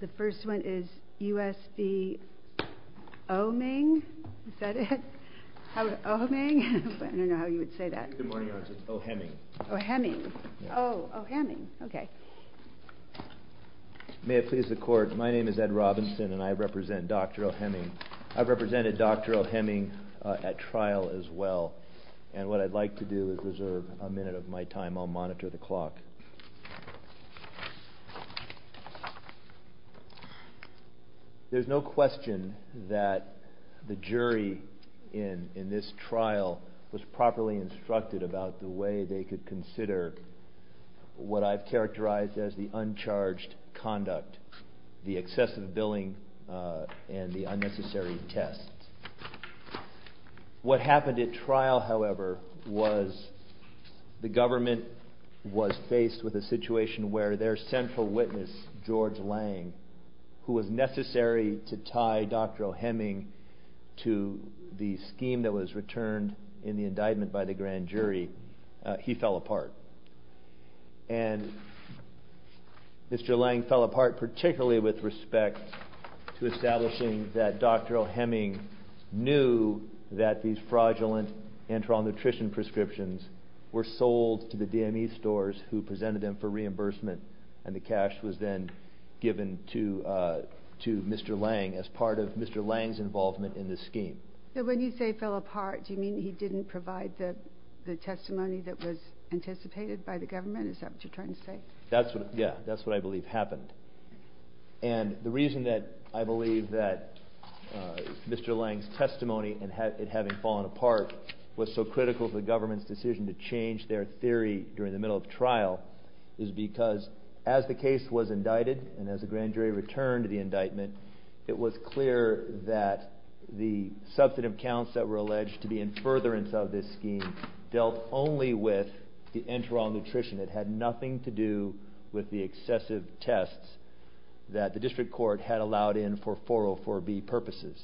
The first one is U.S. v. Ohemeng. Is that it? Ohemeng? I don't know how you would say that. Good morning, Your Honor. It's Ohemeng. Ohemeng. Oh, Ohemeng. Okay. May it please the Court, my name is Ed Robinson and I represent Dr. Ohemeng. I've represented Dr. Ohemeng at trial as well. And what I'd like to do is reserve a minute of my time. I'll monitor the clock. There's no question that the jury in this trial was properly instructed about the way they could consider what I've characterized as the uncharged conduct, the excessive billing and the unnecessary tests. What happened at trial, however, was the government was faced with a situation where their central witness, George Lang, who was necessary to tie Dr. Ohemeng to the scheme that was returned in the indictment by the grand jury, he fell apart. And Mr. Lang fell apart particularly with respect to establishing that Dr. Ohemeng knew that these fraudulent enteral nutrition prescriptions were sold to the DME stores who presented them for reimbursement and the cash was then given to Mr. Lang as part of Mr. Lang's involvement in the scheme. So when you say fell apart, do you mean he didn't provide the testimony that was anticipated by the government? Is that what you're trying to say? Yeah, that's what I believe happened. And the reason that I believe that Mr. Lang's testimony in having fallen apart was so critical to the government's decision to change their theory during the middle of trial is because as the case was indicted and as the grand jury returned the indictment, it was clear that the substantive counts that were alleged to be in furtherance of this scheme dealt only with the enteral nutrition. It had nothing to do with the excessive tests that the district court had allowed in for 404B purposes.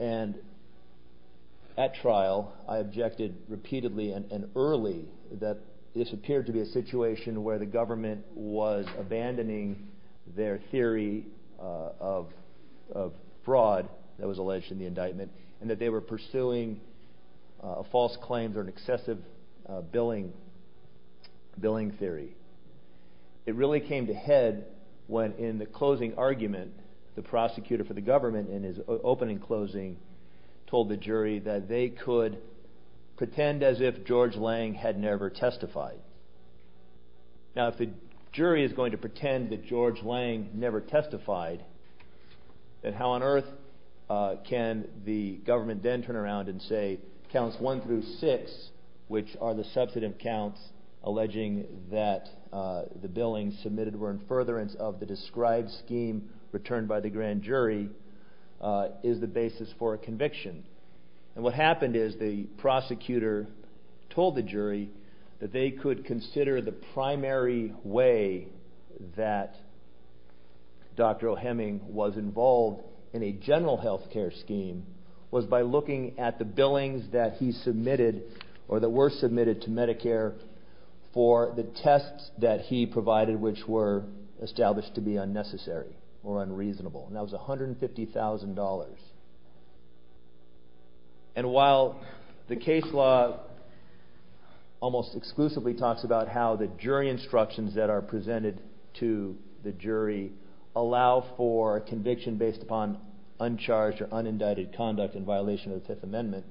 And at trial, I objected repeatedly and early that this appeared to be a situation where the government was changing their theory of fraud that was alleged in the indictment and that they were pursuing a false claim or an excessive billing theory. It really came to head when in the closing argument, the prosecutor for the government in his opening closing told the jury that they could pretend as if George Lang had never testified. Now if the jury is going to pretend that George Lang never testified, then how on earth can the government then turn around and say counts one through six, which are the substantive counts alleging that the billing submitted were in furtherance of the described scheme returned by the grand jury, is the basis for a conviction. And what happened is the prosecutor told the jury that they could consider the primary way that Dr. O'Heming was involved in a general healthcare scheme was by looking at the billings that he submitted or that were submitted to Medicare for the tests that he provided which were established to be unnecessary or unreasonable. And that was $150,000. And while the case law almost exclusively talks about how the jury instructions that are presented to the jury allow for conviction based upon uncharged or unindicted conduct in violation of the Fifth Amendment,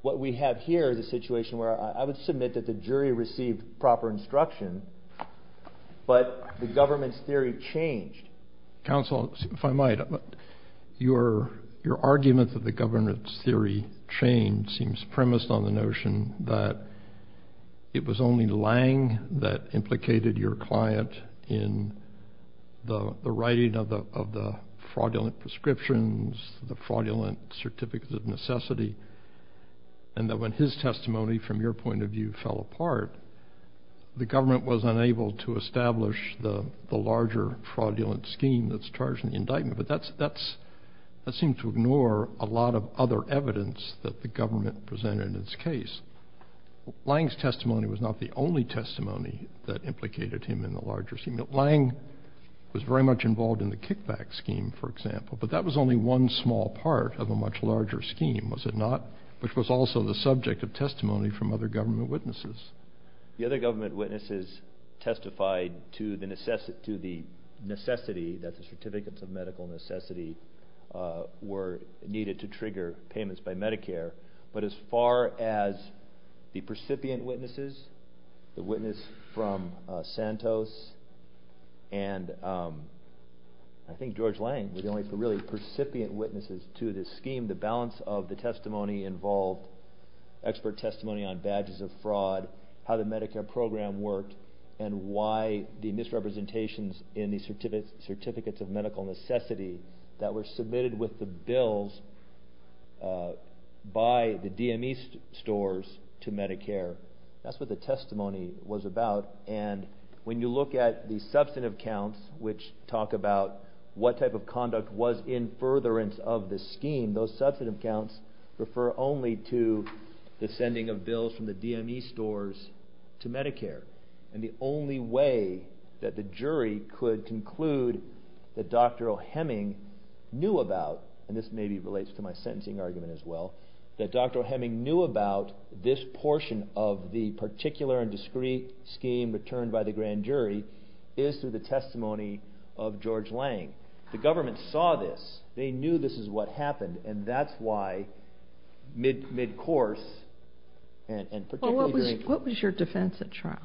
what we have here is a situation where I would submit that the jury received proper instruction, but the government's theory changed. Counsel, if I might, your argument that the government's theory changed seems premised on the notion that it was only Lang that implicated your client in the writing of the fraudulent prescriptions, the fraudulent certificates of necessity, and that when his testimony from your point of view fell apart, the government was unable to establish the larger fraudulent scheme that's charged in the indictment. But that seems to ignore a lot of other evidence that the government presented in its case. Lang's testimony was not the only testimony that implicated him in the larger scheme. Lang was very much involved in the kickback scheme, for example, but that was only one small part of a much larger scheme, was it not, which was also the subject of testimony from other government witnesses. The other government witnesses testified to the necessity that the certificates of medical necessity were needed to trigger payments by percipient witnesses to this scheme. The balance of the testimony involved expert testimony on badges of fraud, how the Medicare program worked, and why the misrepresentations in the certificates of medical necessity that were submitted with the bills by the DME stores to Medicare. That's what the testimony was about, and when you look at the substantive counts which talk about what type of conduct was in furtherance of the scheme, those substantive counts refer only to the sending of bills from the DME stores to Medicare. And the only way that the jury could conclude that Dr. O'Heming knew about, and this maybe relates to my sentencing argument as well, that Dr. O'Heming knew about this portion of the particular and discrete scheme returned by the grand jury is through the testimony of George Lang. The government saw this, they knew this is what happened, and that's why mid-course and particularly during... What was your defense at trial?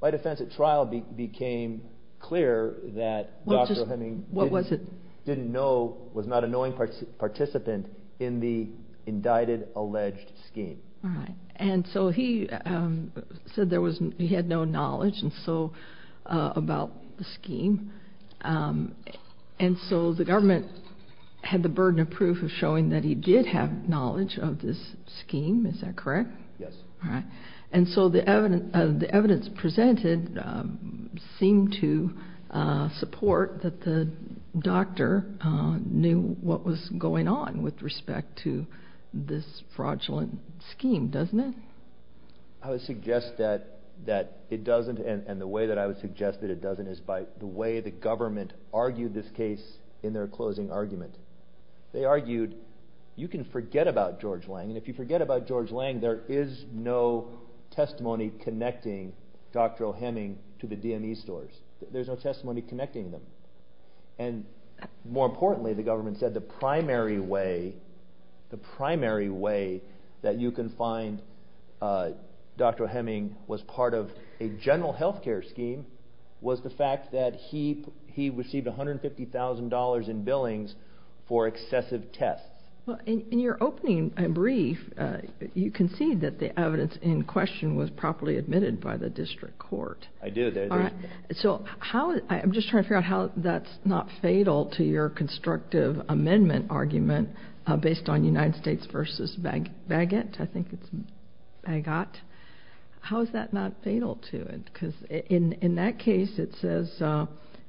My defense at trial became clear that Dr. O'Heming... What was it? ...didn't know, was not a knowing participant in the indicted alleged scheme. Alright, and so he said he had no knowledge about the scheme, and so the government had the burden of proof of showing that he did have knowledge of this scheme, is that correct? Yes. Alright, and so the evidence presented seemed to support that the doctor knew what was going on with respect to this fraudulent scheme, doesn't it? I would suggest that it doesn't, and the way that I would suggest that it doesn't is by the way the government argued this case in their closing argument. They argued you can forget about George Lang, and if you forget about George Lang there is no testimony connecting Dr. O'Heming to the DME stores. There's no testimony connecting them, and more importantly the government said the primary way that you can find Dr. O'Heming was part of a general healthcare scheme was the fact that he received $150,000 in billings for excessive tests. In your opening brief you concede that the evidence in question was properly admitted by the district court. I did. I'm just trying to figure out how that's not fatal to your constructive amendment argument based on United States v. Bagot. How is that not fatal to it? Because in that case it says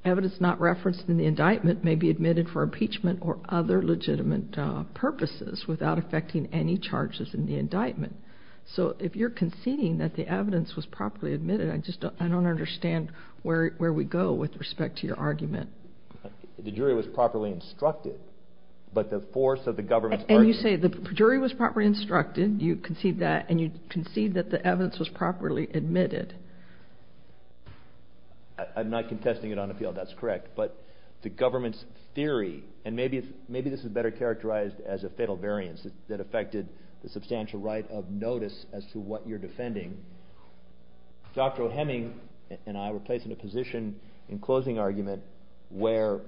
evidence not referenced in the indictment may be admitted for impeachment or other legitimate purposes without affecting any charges in the indictment. So if you're conceding that the evidence was properly admitted, I just don't understand where we go with respect to your argument. The jury was properly instructed, but the force of the government's argument... And you say the jury was properly instructed, you concede that, and you concede that the evidence was properly admitted. I'm not contesting it on the field, that's correct. But the government's theory, and maybe this is better characterized as a fatal variance that affected the substantial right of notice as to what you're defending. Dr. O'Heming and I were placed in a position in closing argument where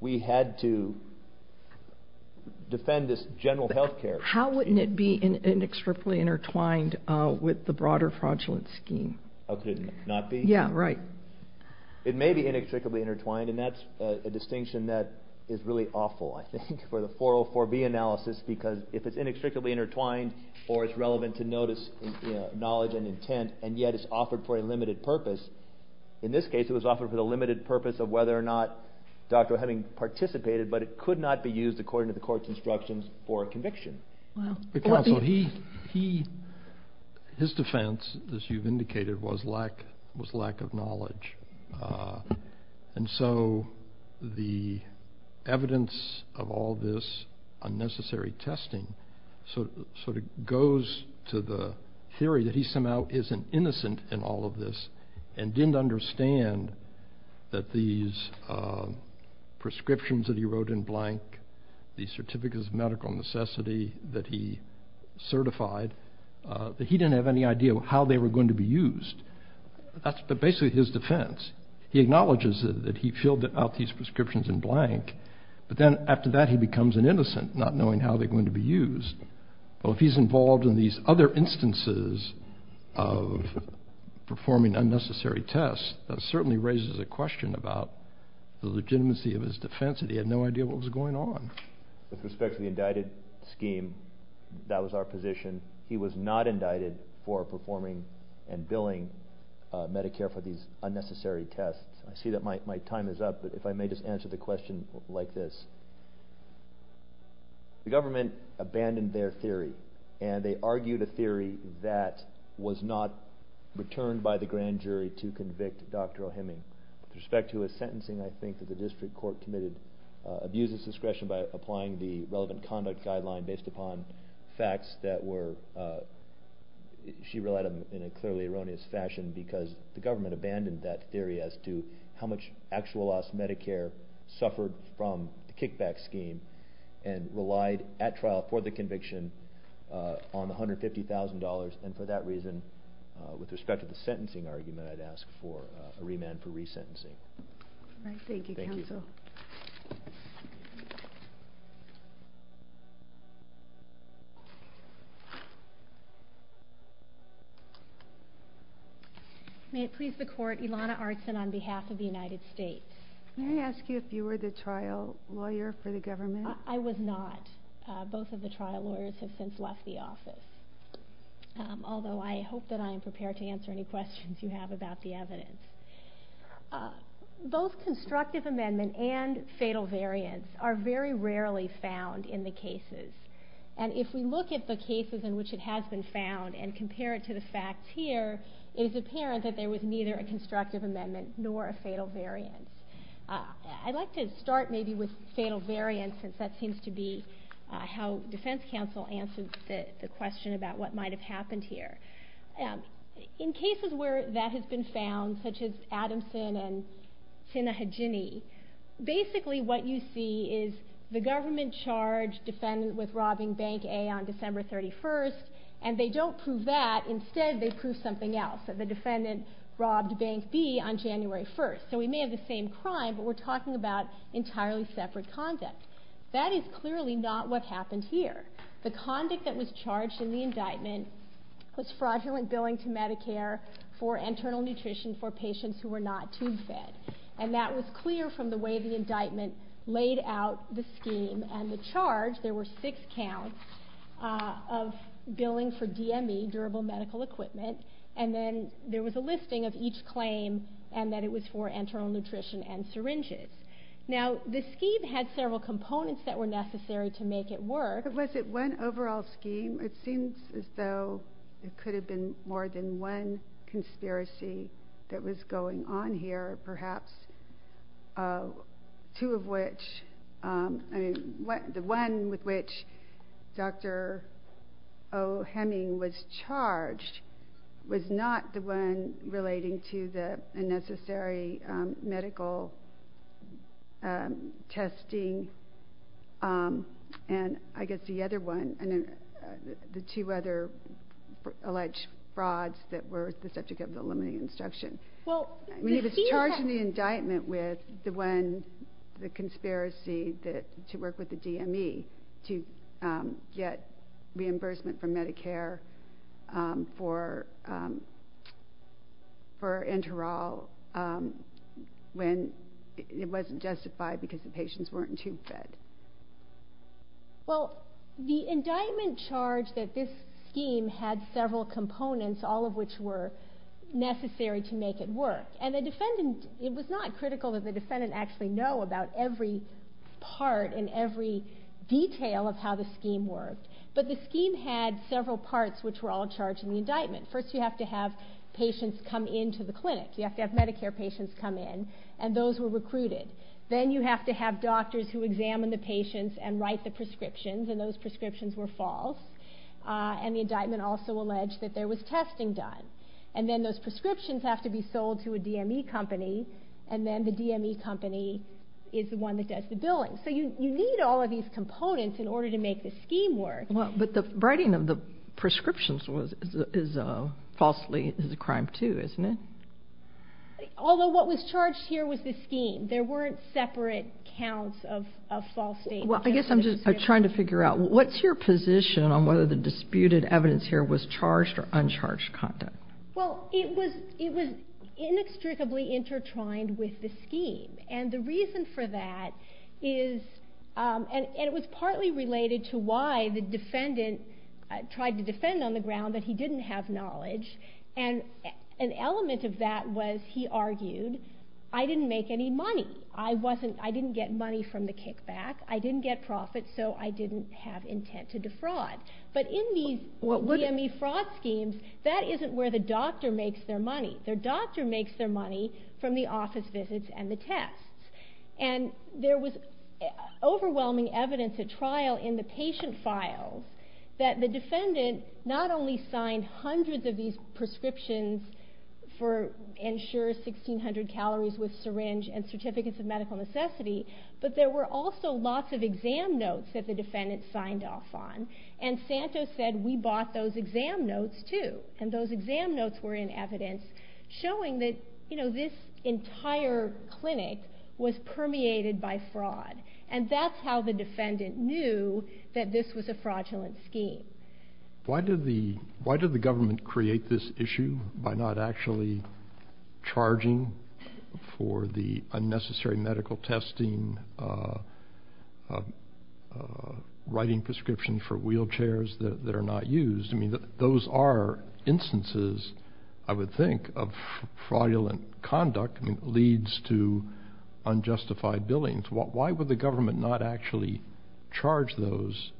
we had to defend this general healthcare scheme. How wouldn't it be inextricably intertwined with the broader fraudulent scheme? Oh, could it not be? Yeah, right. It may be inextricably intertwined, and that's a distinction that is really awful, I think, for the 404B analysis. Because if it's inextricably intertwined, or it's relevant to notice, knowledge, and intent, and yet it's offered for a limited purpose. In this case it was offered for the limited purpose of whether or not Dr. O'Heming participated, but it could not be used according to the court's instructions for conviction. Counsel, his defense, as you've indicated, was lack of knowledge. And so the evidence of all this unnecessary testing sort of goes to the theory that he somehow isn't innocent in all of this, and didn't understand that these prescriptions that he wrote in blank, these Certificates of Medical Necessity that he certified, that he didn't have any idea how they were going to be used. That's basically his defense. He acknowledges that he filled out these prescriptions in blank, but then after that he becomes an innocent, not knowing how they're going to be used. Well, if he's involved in these other instances of performing unnecessary tests, that certainly raises a question about the legitimacy of his defense, that he had no idea what was going on. With respect to the indicted scheme, that was our position. He was not indicted for performing and billing Medicare for these unnecessary tests. I see that my time is up, but if I may just answer the question like this. The government abandoned their theory, and they argued a theory that was not returned by the grand jury to convict Dr. O'Hemming. With respect to his sentencing, I think that the district court committed abuse of discretion by applying the relevant conduct guideline based upon facts that were – because the government abandoned that theory as to how much actual loss Medicare suffered from the kickback scheme and relied at trial for the conviction on $150,000. For that reason, with respect to the sentencing argument, I'd ask for a remand for resentencing. Thank you, counsel. May it please the court, Ilana Artson on behalf of the United States. May I ask you if you were the trial lawyer for the government? I was not. Both of the trial lawyers have since left the office, although I hope that I am prepared to answer any questions you have about the evidence. Both constructive amendment and fatal variance are very rarely found in the cases. And if we look at the cases in which it has been found and compare it to the facts here, it is apparent that there was neither a constructive amendment nor a fatal variance. I'd like to start maybe with fatal variance, since that seems to be how defense counsel answers the question about what might have happened here. In cases where that has been found, such as Adamson and Sinha Hajini, basically what you see is the government charged defendant with robbing Bank A on December 31st, and they don't prove that. Instead, they prove something else, that the defendant robbed Bank B on January 1st. So we may have the same crime, but we're talking about entirely separate conduct. That is clearly not what happened here. The conduct that was charged in the indictment was fraudulent billing to Medicare for internal nutrition for patients who were not tube fed. And that was clear from the way the indictment laid out the scheme and the charge. There were six counts of billing for DME, durable medical equipment, and then there was a listing of each claim and that it was for internal nutrition and syringes. Now, the scheme had several components that were necessary to make it work. But was it one overall scheme? It seems as though it could have been more than one conspiracy that was going on here, perhaps. Two of which, I mean, the one with which Dr. O. Hemming was charged was not the one relating to the unnecessary medical testing. And I guess the other one, the two other alleged frauds that were the subject of the limiting instruction. I mean, he was charged in the indictment with the one, the conspiracy to work with the DME to get reimbursement from Medicare for enteral when it wasn't justified because the patients weren't tube fed. Well, the indictment charged that this scheme had several components, all of which were necessary to make it work. And the defendant, it was not critical that the defendant actually know about every part and every detail of how the scheme worked. But the scheme had several parts which were all charged in the indictment. First, you have to have patients come into the clinic. You have to have Medicare patients come in and those were recruited. Then you have to have doctors who examine the patients and write the prescriptions and those prescriptions were false. And the indictment also alleged that there was testing done. And then those prescriptions have to be sold to a DME company and then the DME company is the one that does the billing. So you need all of these components in order to make the scheme work. Well, but the writing of the prescriptions was, is falsely, is a crime too, isn't it? Although what was charged here was the scheme. There weren't separate counts of false statements. Well, I guess I'm just trying to figure out, what's your position on whether the disputed evidence here was charged or uncharged content? Well, it was inextricably intertwined with the scheme. And the reason for that is, and it was partly related to why the defendant tried to defend on the ground that he didn't have knowledge. And an element of that was he argued, I didn't make any money. I wasn't, I didn't get money from the kickback. I didn't get profit, so I didn't have intent to defraud. But in these DME fraud schemes, that isn't where the doctor makes their money. Their doctor makes their money from the office visits and the tests. And there was overwhelming evidence at trial in the patient files that the defendant not only signed hundreds of these prescriptions for Ensure 1600 Calories with Syringe and Certificates of Medical Necessity, but there were also lots of exam notes that the defendant signed off on. And Santos said, we bought those exam notes too. And those exam notes were in evidence showing that this entire clinic was permeated by fraud. And that's how the defendant knew that this was a fraudulent scheme. Why did the government create this issue by not actually charging for the unnecessary medical testing, writing prescriptions for wheelchairs that are not used? I mean, those are instances, I would think, of fraudulent conduct that leads to unjustified billings. Why would the government not actually charge those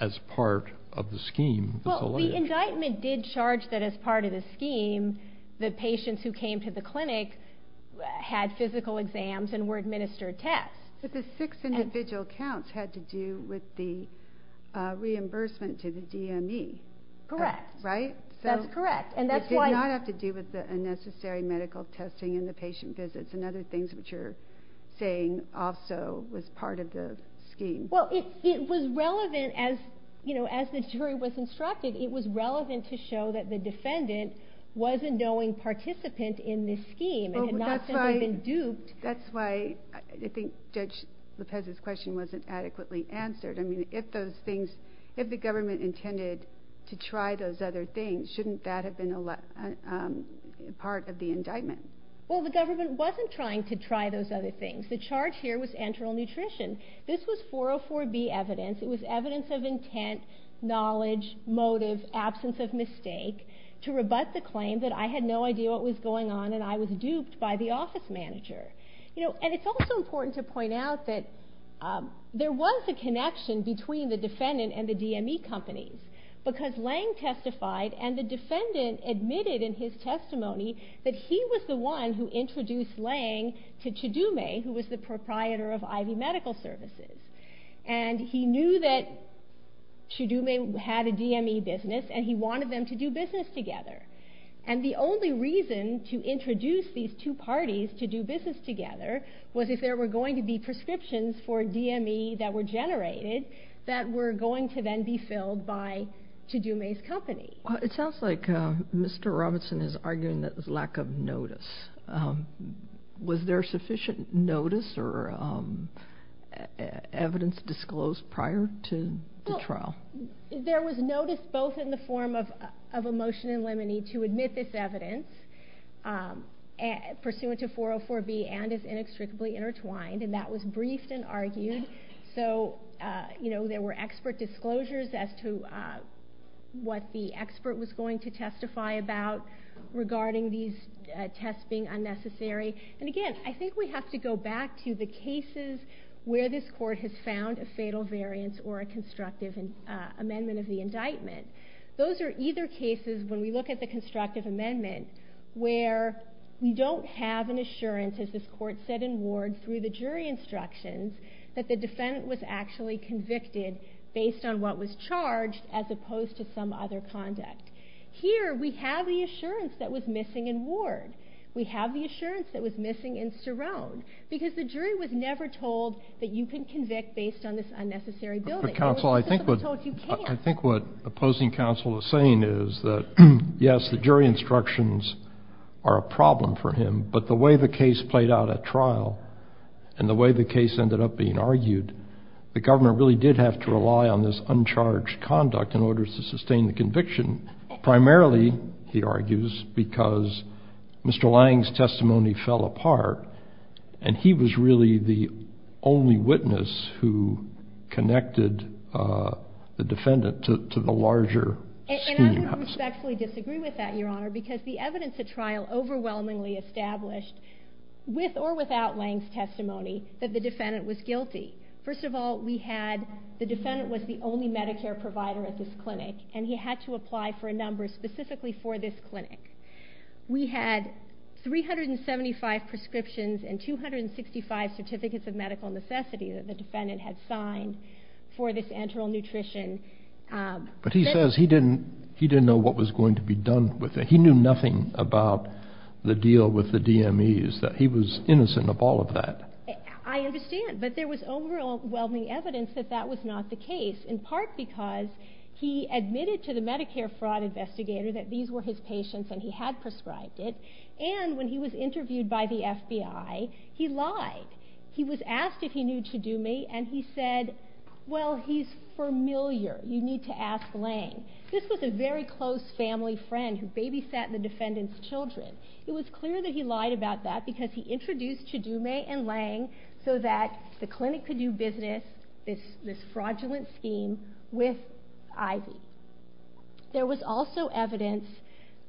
as part of the scheme? Well, the indictment did charge that as part of the scheme, the patients who came to the clinic had physical exams and were administered tests. But the six individual counts had to do with the reimbursement to the DME. Correct. Right? That's correct. It did not have to do with the unnecessary medical testing in the patient visits and other things which you're saying also was part of the scheme. Well, it was relevant as the jury was instructed. It was relevant to show that the defendant was a knowing participant in this scheme and had not simply been duped. That's why I think Judge Lopez's question wasn't adequately answered. I mean, if the government intended to try those other things, shouldn't that have been part of the indictment? Well, the government wasn't trying to try those other things. The charge here was enteral nutrition. This was 404B evidence. It was evidence of intent, knowledge, motive, absence of mistake to rebut the claim that I had no idea what was going on and I was duped by the office manager. And it's also important to point out that there was a connection between the defendant and the DME companies because Lange testified and the defendant admitted in his testimony that he was the one who introduced Lange to Chidume, who was the proprietor of Ivy Medical Services. And he knew that Chidume had a DME business and he wanted them to do business together. And the only reason to introduce these two parties to do business together was if there were going to be prescriptions for DME that were generated that were going to then be filled by Chidume's company. It sounds like Mr. Robertson is arguing that there's lack of notice. Was there sufficient notice or evidence disclosed prior to the trial? There was notice both in the form of a motion in limine to admit this evidence pursuant to 404B and is inextricably intertwined. And that was briefed and argued. So, you know, there were expert disclosures as to what the expert was going to testify about regarding these tests being unnecessary. And again, I think we have to go back to the cases where this court has found a fatal variance or a constructive amendment of the indictment. Those are either cases, when we look at the constructive amendment, where we don't have an assurance, as this court said in Ward, through the jury instructions, that the defendant was actually convicted based on what was charged as opposed to some other conduct. Here, we have the assurance that was missing in Ward. We have the assurance that was missing in Starone, because the jury was never told that you can convict based on this unnecessary building. But, counsel, I think what opposing counsel is saying is that, yes, the jury instructions are a problem for him, but the way the case played out at trial and the way the case ended up being argued, the government really did have to rely on this uncharged conduct in order to sustain the conviction, primarily, he argues, because Mr. Lange's testimony fell apart, and he was really the only witness who connected the defendant to the larger scheme. I would respectfully disagree with that, Your Honor, because the evidence at trial overwhelmingly established, with or without Lange's testimony, that the defendant was guilty. First of all, the defendant was the only Medicare provider at this clinic, and he had to apply for a number specifically for this clinic. We had 375 prescriptions and 265 certificates of medical necessity that the defendant had signed for this enteral nutrition. But he says he didn't know what was going to be done with it. He knew nothing about the deal with the DMEs, that he was innocent of all of that. I understand, but there was overwhelming evidence that that was not the case, in part because he admitted to the Medicare fraud investigator that these were his patients and he had prescribed it, and when he was interviewed by the FBI, he lied. He was asked if he knew Chidume, and he said, well, he's familiar. You need to ask Lange. This was a very close family friend who babysat the defendant's children. It was clear that he lied about that because he introduced Chidume and Lange so that the clinic could do business, this fraudulent scheme, with Ivy. There was also evidence,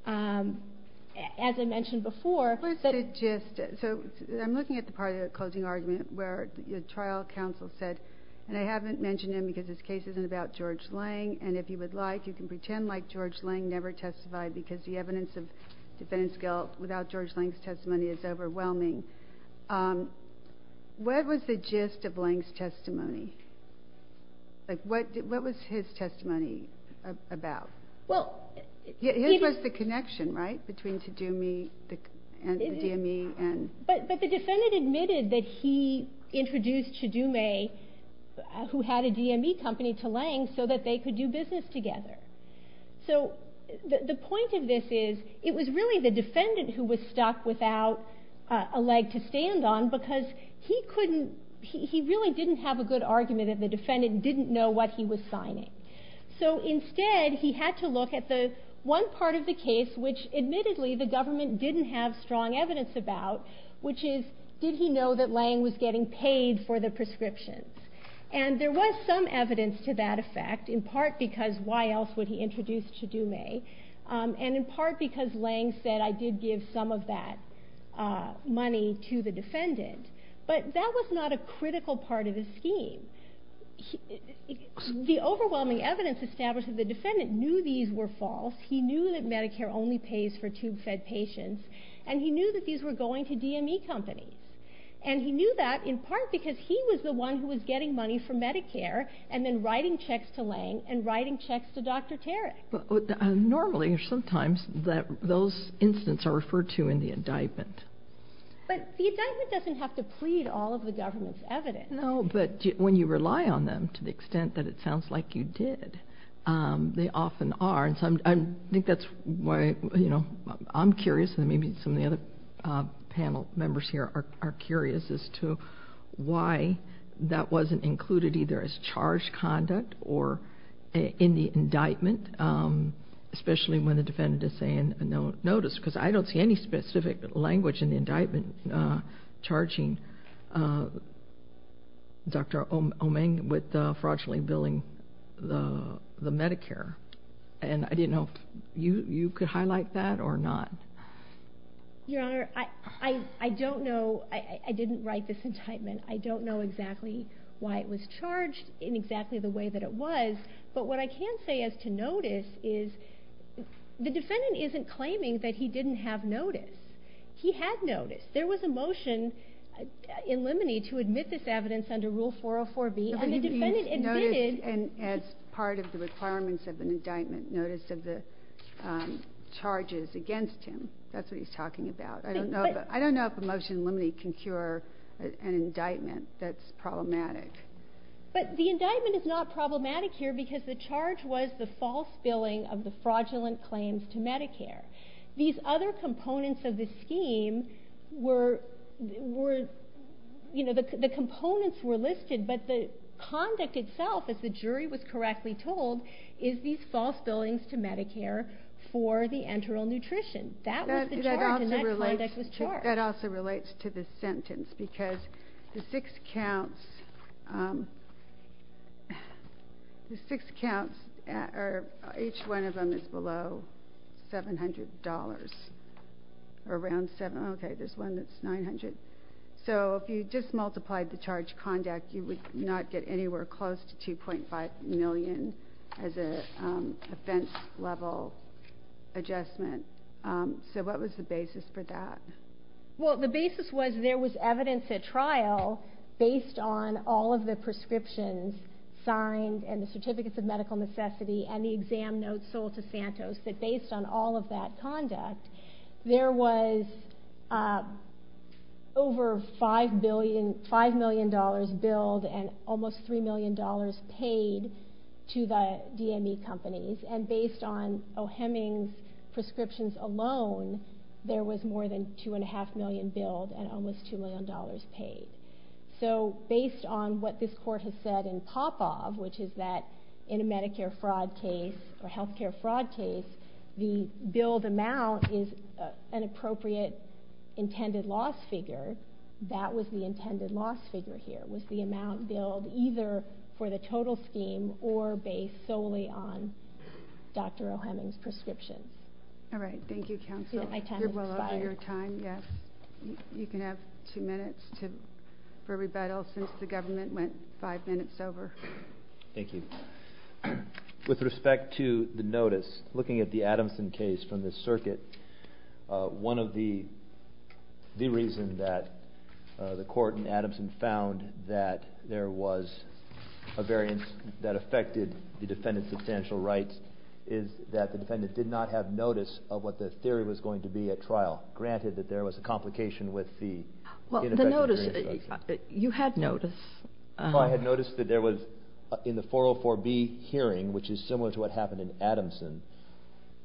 as I mentioned before, that I'm looking at the part of the closing argument where the trial counsel said, and I haven't mentioned him because this case isn't about George Lange, and if you would like, you can pretend like George Lange never testified because the evidence of defendant's guilt without George Lange's testimony is overwhelming. What was the gist of Lange's testimony? What was his testimony about? His was the connection, right, between Chidume and the DME? But the defendant admitted that he introduced Chidume, who had a DME company, to Lange so that they could do business together. So the point of this is it was really the defendant who was stuck without a leg to stand on because he really didn't have a good argument and the defendant didn't know what he was signing. So instead, he had to look at the one part of the case which, admittedly, the government didn't have strong evidence about, which is, did he know that Lange was getting paid for the prescriptions? And there was some evidence to that effect, in part because why else would he introduce Chidume, and in part because Lange said, I did give some of that money to the defendant. But that was not a critical part of the scheme. The overwhelming evidence established that the defendant knew these were false, he knew that Medicare only pays for tube-fed patients, and he knew that these were going to DME companies. And he knew that in part because he was the one who was getting money from Medicare and then writing checks to Lange and writing checks to Dr. Tarek. Normally, or sometimes, those incidents are referred to in the indictment. But the indictment doesn't have to plead all of the government's evidence. No, but when you rely on them to the extent that it sounds like you did, they often are. And I think that's why I'm curious, and maybe some of the other panel members here are curious, as to why that wasn't included either as charged conduct or in the indictment, especially when the defendant is saying no notice, because I don't see any specific language in the indictment charging Dr. Omeng with fraudulently billing the Medicare. And I didn't know if you could highlight that or not. Your Honor, I don't know. I didn't write this indictment. I don't know exactly why it was charged in exactly the way that it was. But what I can say as to notice is the defendant isn't claiming that he didn't have notice. He had notice. There was a motion in limine to admit this evidence under Rule 404B, and the defendant admitted. But he didn't notice as part of the requirements of an indictment notice of the charges against him. That's what he's talking about. I don't know if a motion in limine can cure an indictment that's problematic. But the indictment is not problematic here because the charge was the false billing of the fraudulent claims to Medicare. These other components of the scheme were, you know, the components were listed, but the conduct itself, as the jury was correctly told, is these false billings to Medicare for the enteral nutrition. That was the charge, and that conduct was charged. That also relates to the sentence because the six counts, each one of them is below $700. Okay, there's one that's $900. So if you just multiplied the charge conduct, you would not get anywhere close to $2.5 million as an offense-level adjustment. So what was the basis for that? Well, the basis was there was evidence at trial based on all of the prescriptions signed and the Certificates of Medical Necessity and the exam notes sold to Santos, that based on all of that conduct, there was over $5 million billed and almost $3 million paid to the DME companies. And based on O'Heming's prescriptions alone, there was more than $2.5 million billed and almost $2 million paid. So based on what this court has said in Popov, which is that in a Medicare fraud case or healthcare fraud case, the billed amount is an appropriate intended loss figure. That was the intended loss figure here, was the amount billed either for the total scheme or based solely on Dr. O'Heming's prescription. All right, thank you, counsel. You're well over your time, yes. You can have two minutes for rebuttal since the government went five minutes over. Thank you. With respect to the notice, looking at the Adamson case from the circuit, one of the reasons that the court in Adamson found that there was a variance that affected the defendant's substantial rights is that the defendant did not have notice of what the theory was going to be at trial, granted that there was a complication with the ineffective reintroduction. Well, the notice, you had notice. Well, I had notice that there was, in the 404B hearing, which is similar to what happened in Adamson,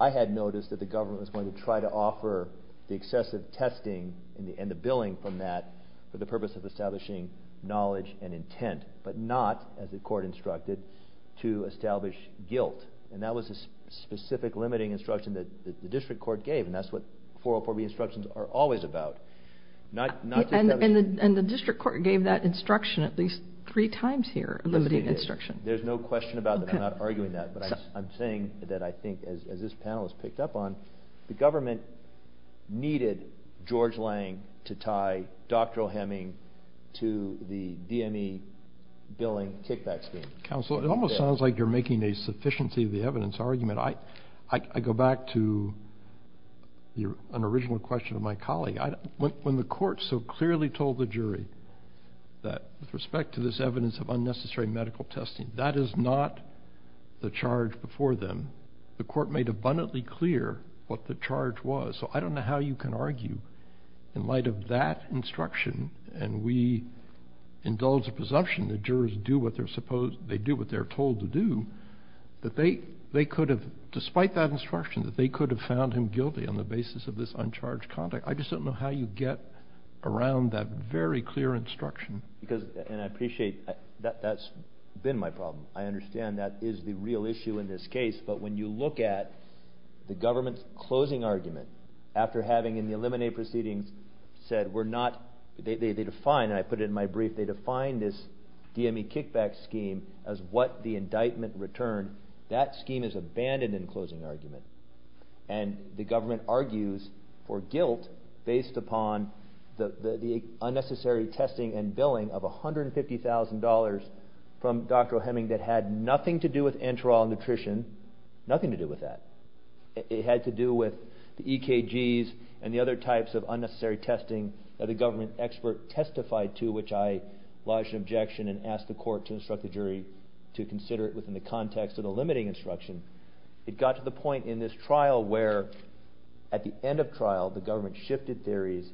I had notice that the government was going to try to offer the excessive testing and the billing from that for the purpose of establishing knowledge and intent, but not, as the court instructed, to establish guilt. And that was a specific limiting instruction that the district court gave, and that's what 404B instructions are always about. And the district court gave that instruction at least three times here, limiting instruction. There's no question about that. I'm not arguing that, but I'm saying that I think, as this panel has picked up on, the government needed George Lang to tie doctoral hemming to the DME billing kickback scheme. Counsel, it almost sounds like you're making a sufficiency of the evidence argument. I go back to an original question of my colleague. When the court so clearly told the jury that, with respect to this evidence of unnecessary medical testing, that is not the charge before them, the court made abundantly clear what the charge was. So I don't know how you can argue, in light of that instruction, and we indulge the presumption that jurors do what they're told to do, that they could have, despite that instruction, that they could have found him guilty on the basis of this uncharged conduct. I just don't know how you get around that very clear instruction. And I appreciate that's been my problem. I understand that is the real issue in this case. But when you look at the government's closing argument, after having, in the eliminate proceedings, said we're not – they define, and I put it in my brief, they define this DME kickback scheme as what the indictment returned. That scheme is abandoned in closing argument. And the government argues for guilt based upon the unnecessary testing and billing of $150,000 from Dr. O'Heming that had nothing to do with enteral nutrition, nothing to do with that. It had to do with the EKGs and the other types of unnecessary testing that the government expert testified to, which I lodged an objection and asked the court to instruct the jury to consider it within the context of the limiting instruction. It got to the point in this trial where, at the end of trial, the government shifted theories.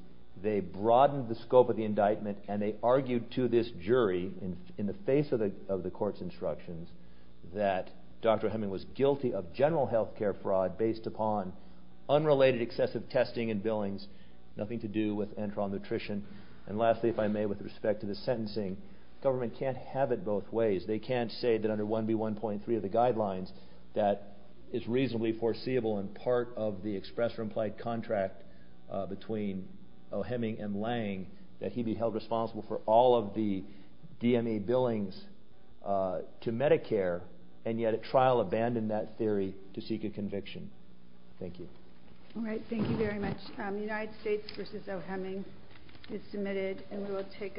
They broadened the scope of the indictment, and they argued to this jury in the face of the court's instructions that Dr. O'Heming was guilty of general health care fraud based upon unrelated excessive testing and billings, nothing to do with enteral nutrition. And lastly, if I may, with respect to the sentencing, the government can't have it both ways. They can't say that under 1B1.3 of the guidelines that it's reasonably foreseeable and part of the express or implied contract between O'Heming and Lange that he be held responsible for all of the DMA billings to Medicare, and yet at trial abandon that theory to seek a conviction. Thank you. All right, thank you very much. United States v. O'Heming is submitted, and we will take up.